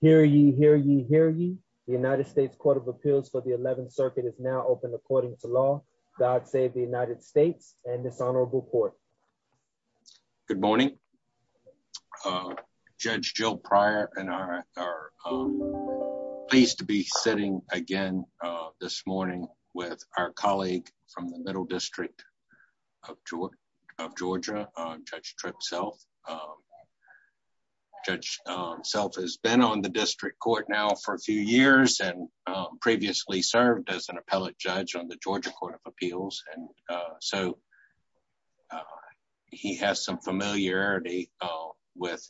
Hear ye, hear ye, hear ye. The United States Court of Appeals for the 11th Circuit is now open according to law. God save the United States and this honorable court. Good morning. Judge Jill Pryor and I are pleased to be sitting again this morning with our colleague from the Middle District of Georgia, Judge Tripp Self. Judge Self has been on the district court now for a few years and previously served as an appellate judge on the Georgia Court of Appeals. And so he has some familiarity with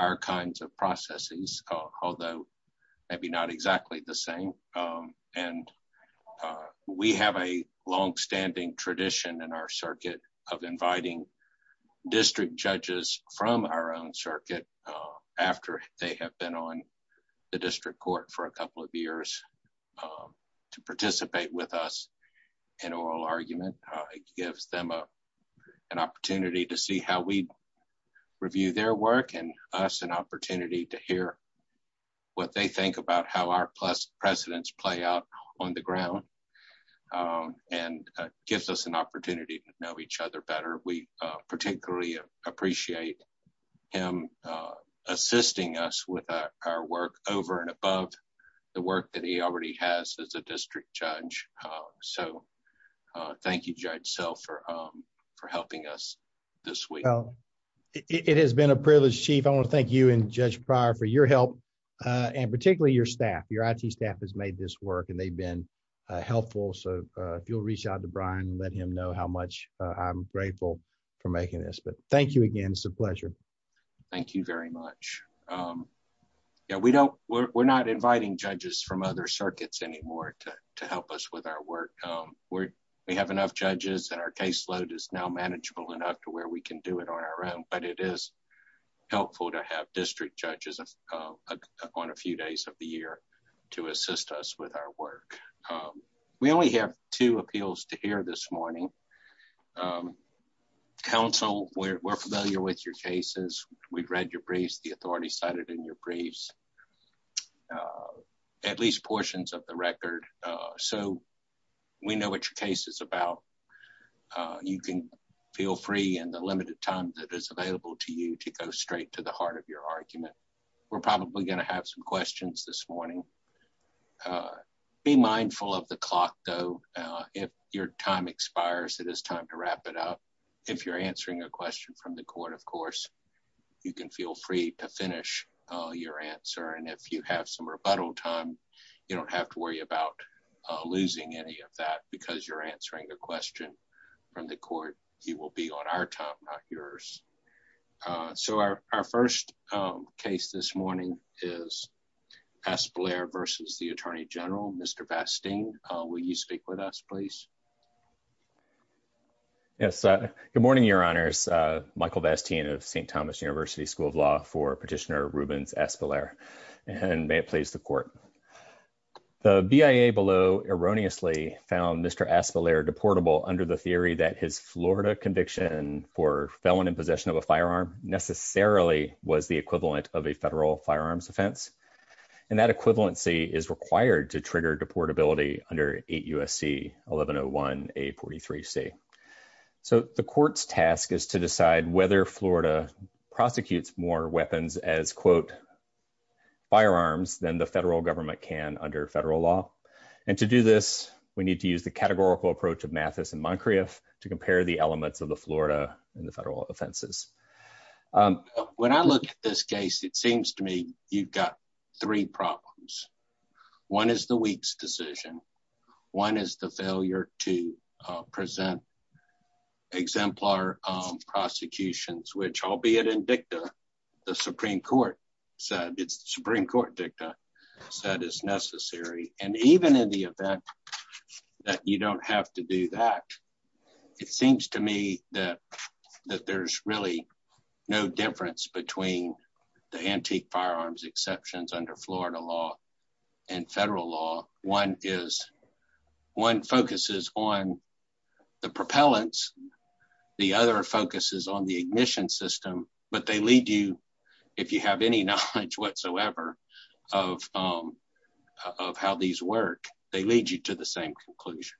our kinds of processes, although maybe not exactly the same. And we have a longstanding tradition in our circuit of inviting district judges from our own circuit after they have been on the district court for a couple of years to participate with us in oral argument. It gives them an opportunity to see how we review their work and us an opportunity to hear what they think about how our precedents play out on the ground and gives us an opportunity to know each other better. We particularly appreciate him assisting us with our work over and above the work that he already has as a district judge. So thank you Judge Self for helping us this week. It has been a privilege, Chief. I wanna thank you and Judge Pryor for your help and particularly your staff. Your IT staff has made this work and they've been helpful. So if you'll reach out to Brian, let him know how much I'm grateful for making this, but thank you again, it's a pleasure. Thank you very much. Yeah, we're not inviting judges from other circuits anymore to help us with our work. We have enough judges and our caseload is now manageable enough to where we can do it on our own, but it is helpful to have district judges on a few days of the year to assist us with our work. We only have two appeals to hear this morning. Counsel, we're familiar with your cases. We've read your briefs, the authority cited in your briefs, at least portions of the record. So we know what your case is about. You can feel free in the limited time that is available to you to go straight to the heart of your argument. We're probably gonna have some questions this morning. Be mindful of the clock though. If your time expires, it is time to wrap it up. If you're answering a question from the court, of course, you can feel free to finish your answer. And if you have some rebuttal time, you don't have to worry about losing any of that because you're answering a question from the court. You will be on our time, not yours. So our first case this morning is Aspillare versus the Attorney General, Mr. Vasteen. Will you speak with us, please? Yes, good morning, your honors. Michael Vasteen of St. Thomas University School of Law for Petitioner Rubens Aspillare, and may it please the court. The BIA below erroneously found Mr. Aspillare deportable under the theory that his Florida conviction for felon in possession of a firearm necessarily was the equivalent of a federal firearms offense and that equivalency is required to trigger deportability under 8 U.S.C. 1101A43C. So the court's task is to decide whether Florida prosecutes more weapons as quote, firearms than the federal government can under federal law. And to do this, we need to use the categorical approach of Mathis and Moncrieff to compare the elements of the Florida and the federal offenses. When I look at this case, it seems to me you've got three problems. One is the week's decision. One is the failure to present exemplar prosecutions, which albeit in dicta, the Supreme Court said, it's the Supreme Court dicta said is necessary. And even in the event that you don't have to do that, it seems to me that there's really no difference between the antique firearms exceptions under Florida law and federal law. One focuses on the propellants, the other focuses on the ignition system, but they lead you, if you have any knowledge whatsoever of how these work, they lead you to the same conclusion.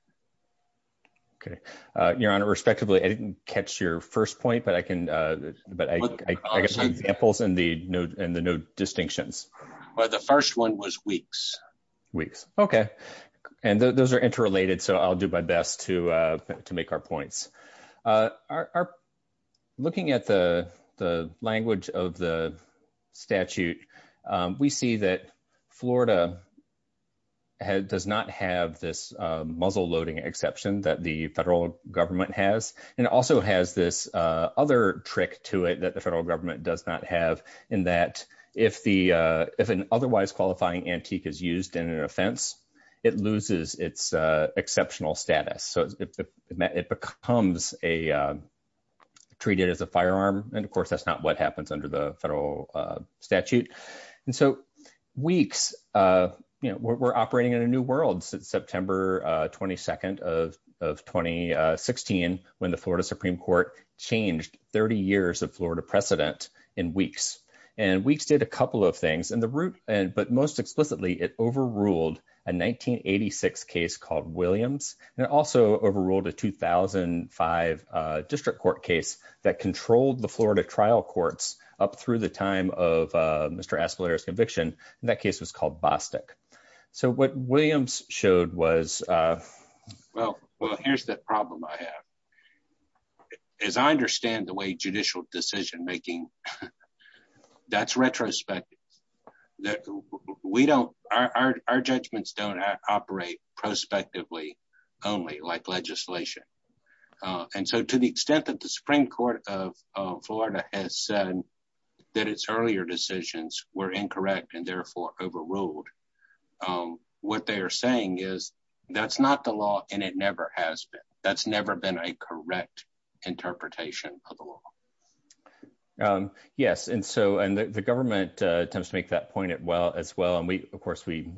Okay. Your Honor, respectively, I didn't catch your first point, but I can, but I got some examples in the note and the note distinctions. Well, the first one was weeks. Weeks, okay. And those are interrelated. So I'll do my best to make our points. Looking at the language of the statute, we see that Florida does not have this muzzle load exception that the federal government has. And it also has this other trick to it that the federal government does not have in that if an otherwise qualifying antique is used in an offense, it loses its exceptional status. So it becomes treated as a firearm. And of course that's not what happens under the federal statute. And so weeks, we're operating in a new world since September 22nd of 2016, when the Florida Supreme Court changed 30 years of Florida precedent in weeks. And weeks did a couple of things. And the root, but most explicitly, it overruled a 1986 case called Williams. And it also overruled a 2005 district court case that controlled the Florida trial courts up through the time of Mr. Aspelier's conviction. And that case was called Bostic. So what Williams showed was... Well, here's the problem I have. As I understand the way judicial decision-making, that's retrospective. Our judgments don't operate prospectively only like legislation. And so to the extent that the Supreme Court of Florida has said that its earlier decisions were incorrect and therefore overruled, what they are saying is that's not the law and it never has been. That's never been a correct interpretation of the law. Yes, and so the government attempts to make that point as well. And of course we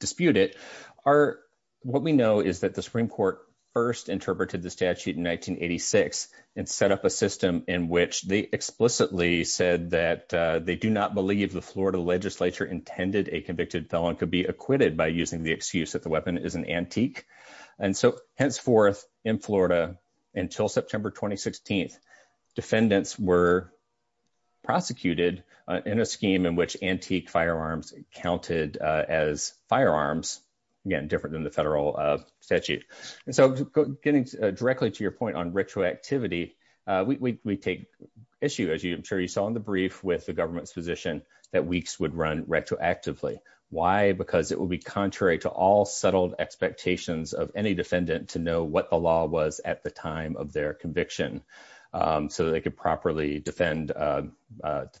dispute it. What we know is that the Supreme Court first interpreted the statute in 1986 and set up a system in which they explicitly said that they do not believe the Florida legislature intended a convicted felon could be acquitted by using the excuse that the weapon is an antique. And so henceforth in Florida until September, 2016, defendants were prosecuted in a scheme in which antique firearms counted as firearms, again, different than the federal statute. And so getting directly to your point on retroactivity, we take issue, as I'm sure you saw in the brief with the government's position that weeks would run retroactively. Why? Because it would be contrary to all settled expectations of any defendant to know what the law was at the time of their conviction so that they could properly defend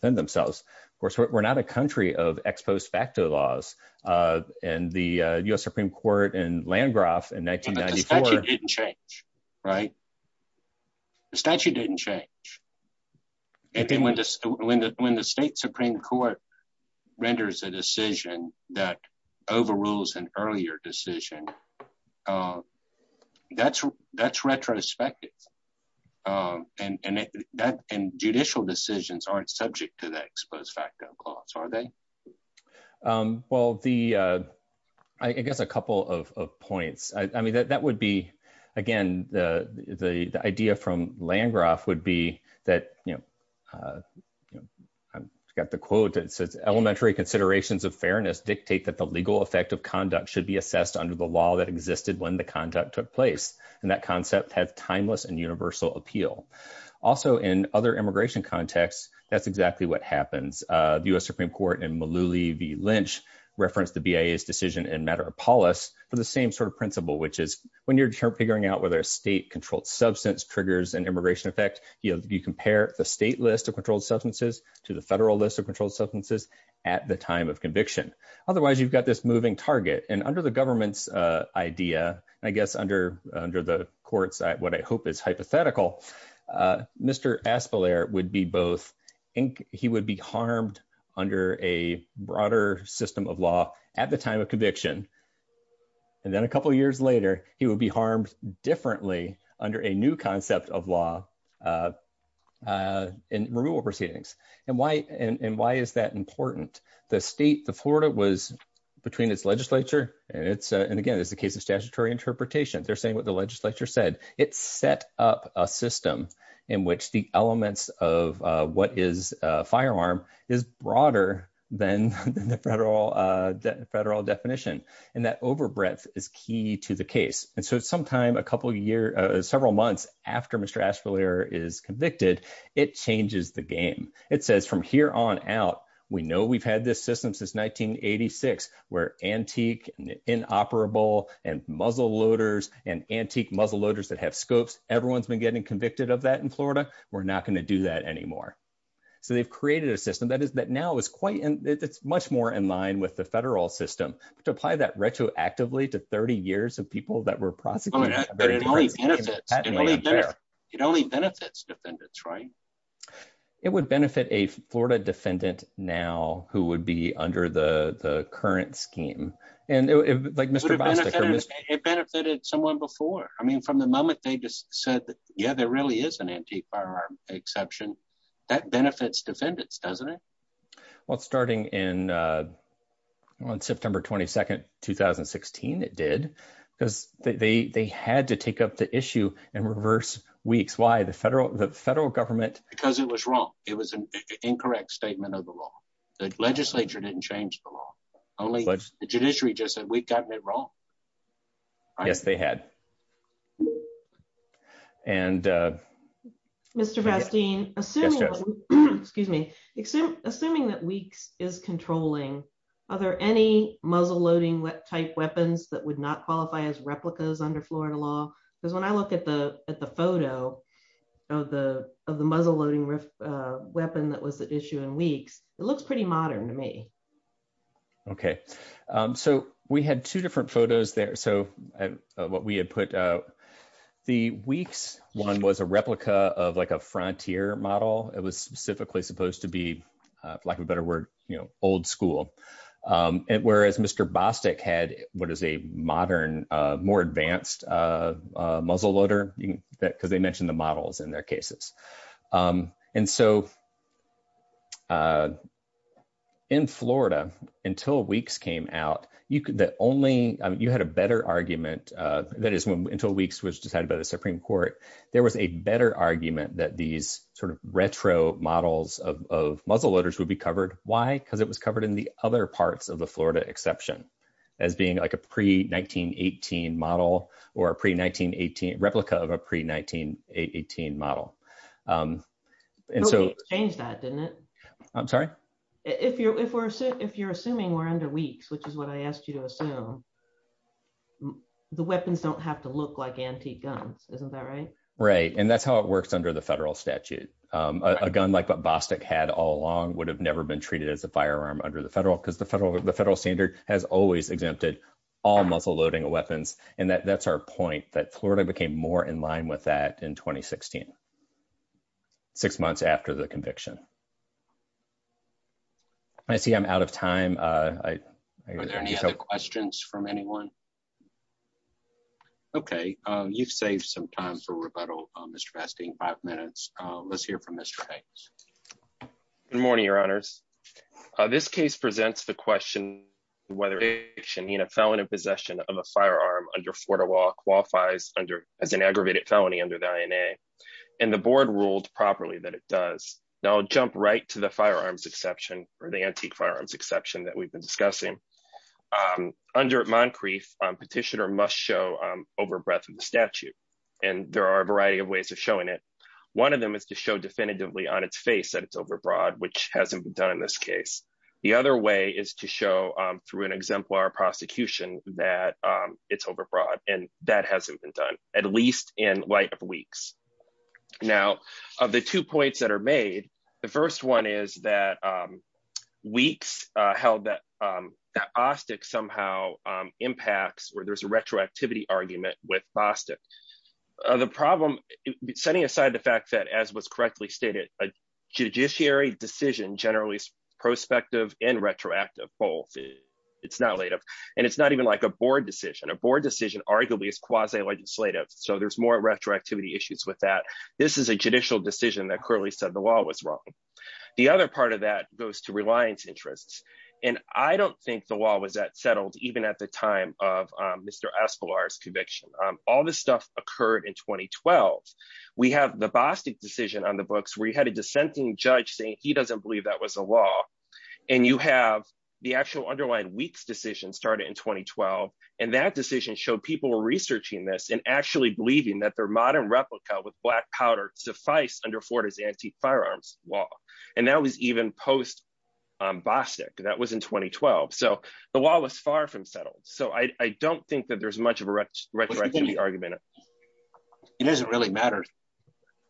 themselves. Of course, we're not a country of ex post facto laws and the US Supreme Court in Landgraf in 1994. The statute didn't change, right? The statute didn't change. And then when the state Supreme Court renders a decision that overrules an earlier decision, that's retrospective. And judicial decisions aren't subject to the ex post facto clause, are they? Well, the, I guess a couple of points. I mean, that would be, again, the idea from Landgraf would be that, I've got the quote that says, elementary considerations of fairness dictate that the legal effect of conduct should be assessed under the law that existed when the conduct took place. And that concept has timeless and universal appeal. Also in other immigration contexts, that's exactly what happens. The US Supreme Court in Mullooly v. Lynch referenced the BIA's decision in Matterpolis for the same sort of principle, which is when you're figuring out whether a state-controlled substance triggers an immigration effect, you compare the state list of controlled substances to the federal list of controlled substances at the time of conviction. Otherwise, you've got this moving target. And under the government's idea, I guess under the court's, what I hope is hypothetical, Mr. Aspelair would be both, he would be harmed under a broader system of law at the time of conviction. And then a couple of years later, he would be harmed differently under a new concept of law in removal proceedings. And why is that important? The state, the Florida was between its legislature and it's, and again, this is a case of statutory interpretation. They're saying what the legislature said. It set up a system in which the elements of what is a firearm is broader than the federal definition. And that overbreadth is key to the case. And so sometime a couple of years, several months after Mr. Aspelair is convicted, it changes the game. It says from here on out, we know we've had this system since 1986 where antique and inoperable and muzzle loaders and antique muzzle loaders that have scopes. Everyone's been getting convicted of that in Florida. We're not gonna do that anymore. So they've created a system that is, that now is quite, and it's much more in line with the federal system to apply that retroactively to 30 years of people that were prosecuted. It only benefits defendants, right? It would benefit a Florida defendant now who would be under the current scheme. And like Mr. Bostic. It benefited someone before. I mean, from the moment they just said, yeah, there really is an antique firearm exception, that benefits defendants, doesn't it? Well, it's starting on September 22nd, 2016, it did. Because they had to take up the issue in reverse weeks. Why? The federal government. Because it was wrong. It was an incorrect statement of the law. The legislature didn't change the law. Only the judiciary just said, we've gotten it wrong. Yes, they had. And- Mr. Bastine, assuming that weeks is controlling, are there any muzzle loading type weapons that would not qualify as replicas under Florida law? Because when I look at the photo of the muzzle loading weapon that was at issue in weeks, it looks pretty modern to me. Okay. So we had two different photos there. So what we had put out, the weeks one was a replica of like a frontier model. It was specifically supposed to be, for lack of a better word, old school. And whereas Mr. Bostic had what is a modern, more advanced muzzle loader, because they mentioned the models in their cases. And so in Florida, until weeks came out, you had a better argument, that is until weeks was decided by the Supreme Court, there was a better argument that these sort of retro models of muzzle loaders would be covered. Why? Because it was covered in the other parts of the Florida exception, as being like a pre 1918 model, or a pre 1918, replica of a pre 1918 model. And so- Nobody changed that, didn't it? I'm sorry? If you're assuming we're under weeks, which is what I asked you to assume, the weapons don't have to look like antique guns. Isn't that right? Right, and that's how it works under the federal statute. A gun like what Bostic had all along would have never been treated as a firearm under the federal because the federal standard has always exempted all muzzle loading weapons. And that's our point, that Florida became more in line with that in 2016, six months after the conviction. I see I'm out of time. Are there any other questions from anyone? Okay, you've saved some time for rebuttal, Mr. Basting, five minutes. Let's hear from Mr. Bates. Good morning, your honors. This case presents the question whether a felon in possession of a firearm under Florida law qualifies as an aggravated felony under the INA. And the board ruled properly that it does. Now I'll jump right to the firearms exception or the antique firearms exception that we've been discussing. Under Moncrief, petitioner must show over breadth of the statute. And there are a variety of ways of showing it. One of them is to show definitively on its face that it's overbroad, which hasn't been done in this case. The other way is to show through an exemplar prosecution that it's overbroad and that hasn't been done at least in light of weeks. Now, of the two points that are made, the first one is that weeks held that AUSTIC somehow impacts where there's a retroactivity argument with BASTIC. The problem, setting aside the fact that as was correctly stated, a judiciary decision generally is prospective and retroactive both. It's not late and it's not even like a board decision. A board decision arguably is quasi-legislative. So there's more retroactivity issues with that. This is a judicial decision that clearly said the law was wrong. The other part of that goes to reliance interests. And I don't think the law was that settled even at the time of Mr. Escolar's conviction. All this stuff occurred in 2012. We have the BASTIC decision on the books where you had a dissenting judge saying he doesn't believe that was a law. And you have the actual underlying weeks decision started in 2012. And that decision showed people were researching this and actually believing that their modern replica with black powder suffice under Florida's anti-firearms law. And that was even post BASTIC, that was in 2012. So the law was far from settled. So I don't think that there's much of a retroactivity argument. It doesn't really matter.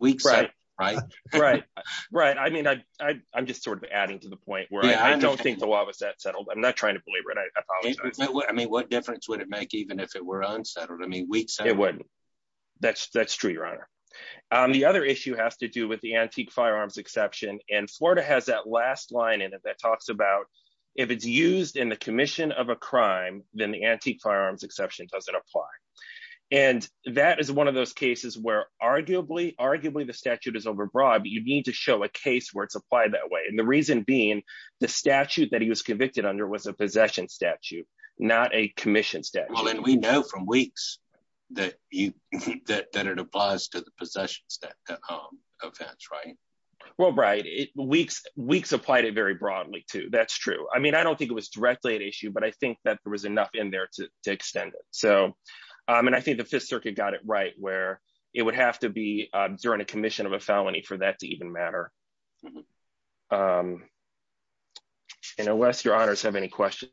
Weeks settled, right? Right, right. I mean, I'm just sort of adding to the point where I don't think the law was that settled. I'm not trying to belabor it, I apologize. I mean, what difference would it make even if it were unsettled? It wouldn't. That's true, your honor. The other issue has to do with the antique firearms exception. And Florida has that last line in it that talks about if it's used in the commission of a crime, then the antique firearms exception doesn't apply. And that is one of those cases where arguably, arguably the statute is overbroad, but you need to show a case where it's applied that way. And the reason being the statute that he was convicted under was a possession statute, not a commission statute. Well, and we know from Weeks that it applies to the possessions of vets, right? Well, right. Weeks applied it very broadly too. That's true. I mean, I don't think it was directly an issue, but I think that there was enough in there to extend it. So, and I think the Fifth Circuit got it right where it would have to be during a commission of a felony for that to even matter. And unless your honors have any questions.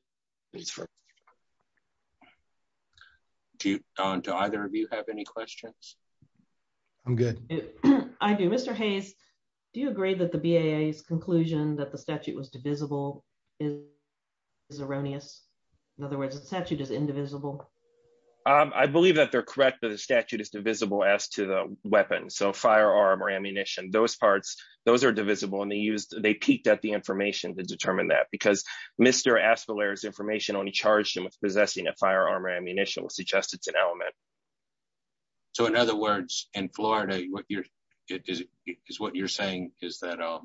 Do either of you have any questions? I'm good. I do. Mr. Hayes, do you agree that the BAA's conclusion that the statute was divisible is erroneous? In other words, the statute is indivisible. I believe that they're correct that the statute is divisible as to the weapon. So firearm or ammunition, those parts, those are divisible. And they peaked at the information to determine that because Mr. Aspeler's information only charged him with possessing a firearm or ammunition will suggest it's an element. So in other words, in Florida, what you're saying is that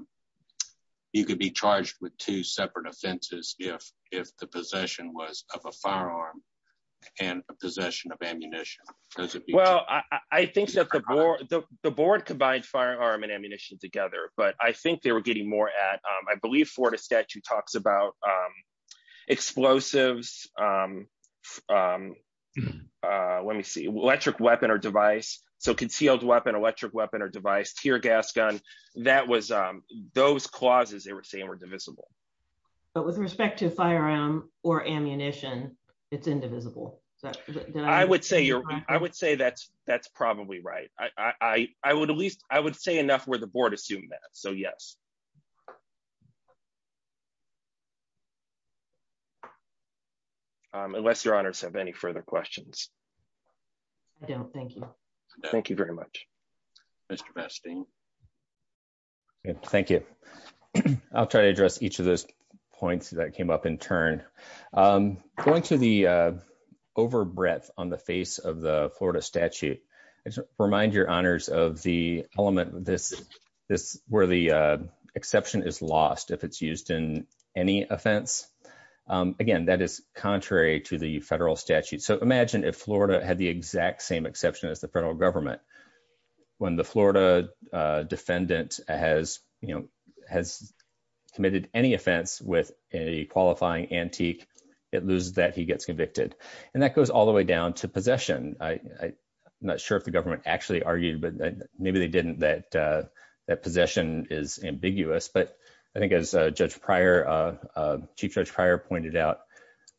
you could be charged with two separate offenses if the possession was of a firearm and a possession of ammunition. Well, I think that the board combined firearm and ammunition together, but I think they were getting more at, I believe Florida statute talks about explosives. Let me see, electric weapon or device. So concealed weapon, electric weapon or device, tear gas gun, that was, those clauses they were saying were divisible. But with respect to firearm or ammunition, it's indivisible. I would say that's probably right. I would say enough where the board assumed that. So yes. Thank you. Unless your honors have any further questions. I don't, thank you. Thank you very much. Mr. Bastine. Thank you. I'll try to address each of those points that came up in turn. Going to the over breadth on the face of the Florida statute, I just remind your honors of the element this where the exception is lost if it's used in any offense. Again, that is contrary to the federal statute. So imagine if Florida had the exact same exception as the federal government. When the Florida defendant has committed any offense with a qualifying antique, it loses that he gets convicted. And that goes all the way down to possession. I'm not sure if the government actually argued, but maybe they didn't that possession is ambiguous. But I think as Chief Judge Pryor pointed out,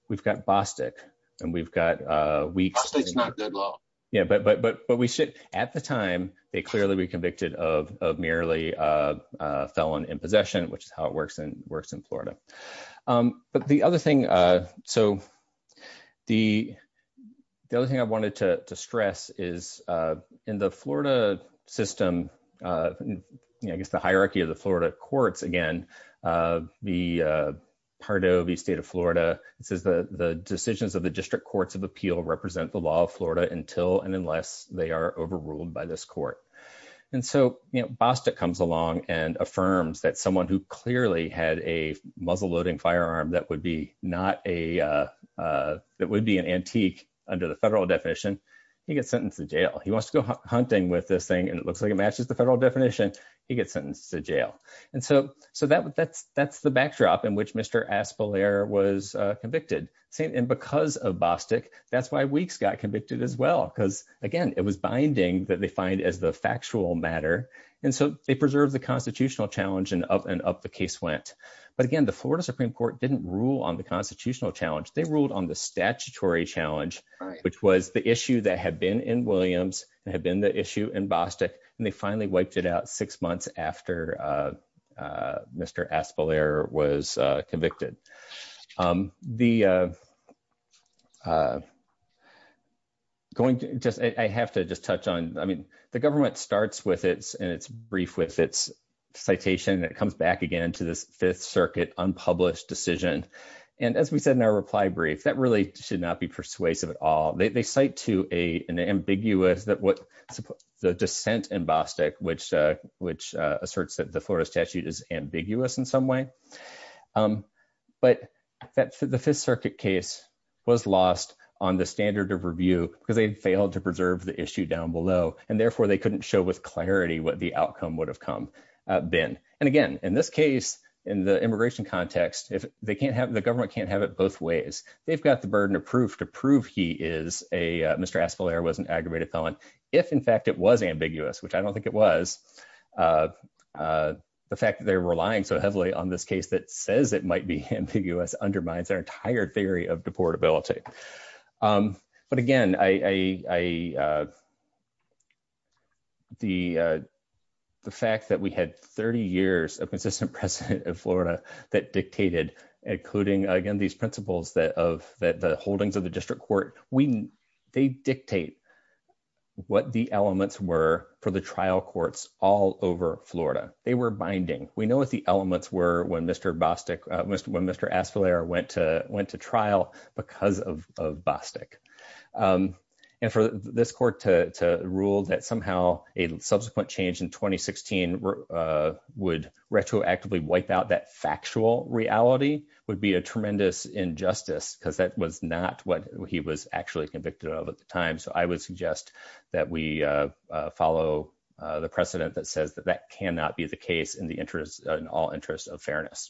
we've got Bostick and we've got weeks. Bostick's not good law. Yeah, but we should at the time, they clearly would be convicted of merely felon in possession, which is how it works in Florida. But the other thing, so the other thing I wanted to stress is in the Florida system, I guess the hierarchy of the Florida courts, again, the Pardo, the state of Florida, it says the decisions of the district courts of appeal represent the law of Florida until and unless they are overruled by this court. And so Bostick comes along and affirms that someone who clearly had a muzzle loading firearm that would be an antique under the federal definition, he gets sentenced to jail. He wants to go hunting with this thing and it looks like it matches the federal definition, he gets sentenced to jail. And so that's the backdrop in which Mr. Aspelier was convicted. Same, and because of Bostick, that's why Weeks got convicted as well. Because again, it was binding that they find as the factual matter. And so they preserved the constitutional challenge and up the case went. But again, the Florida Supreme Court didn't rule on the constitutional challenge. They ruled on the statutory challenge, which was the issue that had been in Williams and had been the issue in Bostick. And they finally wiped it out six months after Mr. Aspelier was convicted. I have to just touch on, I mean, the government starts with its brief with its citation and it comes back again to this Fifth Circuit unpublished decision. And as we said in our reply brief, that really should not be persuasive at all. They cite to an ambiguous that what the dissent in Bostick, which asserts that the Florida statute is ambiguous in some way. But the Fifth Circuit case was lost on the standard of review because they'd failed to preserve the issue down below. And therefore they couldn't show with clarity what the outcome would have been. And again, in this case, in the immigration context, they can't have, the government can't have it both ways. They've got the burden of proof to prove he is a, Mr. Aspelier was an aggravated felon. If in fact it was ambiguous, which I don't think it was, the fact that they're relying so heavily on this case that says it might be ambiguous undermines their entire theory of deportability. But again, the fact that we had 30 years of consistent precedent in Florida that dictated, including again, these principles that the holdings of the district court, they dictate what the elements were for the trial courts all over Florida. They were binding. We know what the elements were when Mr. Bostick, when Mr. Aspelier went to trial because of Bostick. And for this court to rule that somehow a subsequent change in 2016 would retroactively wipe out that factual reality would be a tremendous injustice because that was not what he was actually convicted of at the time. So I would suggest that we follow the precedent that says that that cannot be the case in the interest, in all interest of fairness.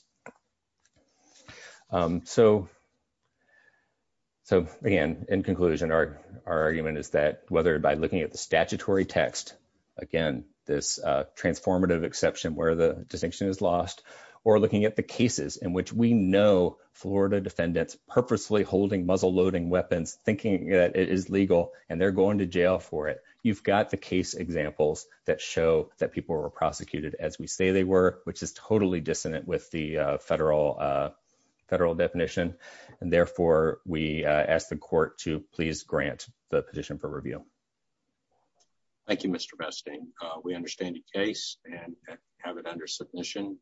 So again, in conclusion, our argument is that whether by looking at the statutory text, again, this transformative exception where the distinction is lost, or looking at the cases in which we know Florida defendants purposely holding muzzle loading weapons thinking that it is legal and they're going to jail for it. You've got the case examples that show that people were prosecuted as we say they were, which is totally dissonant with the federal definition. And therefore we ask the court to please grant the position for review. Thank you, Mr. Besting. We understand the case and have it under submission.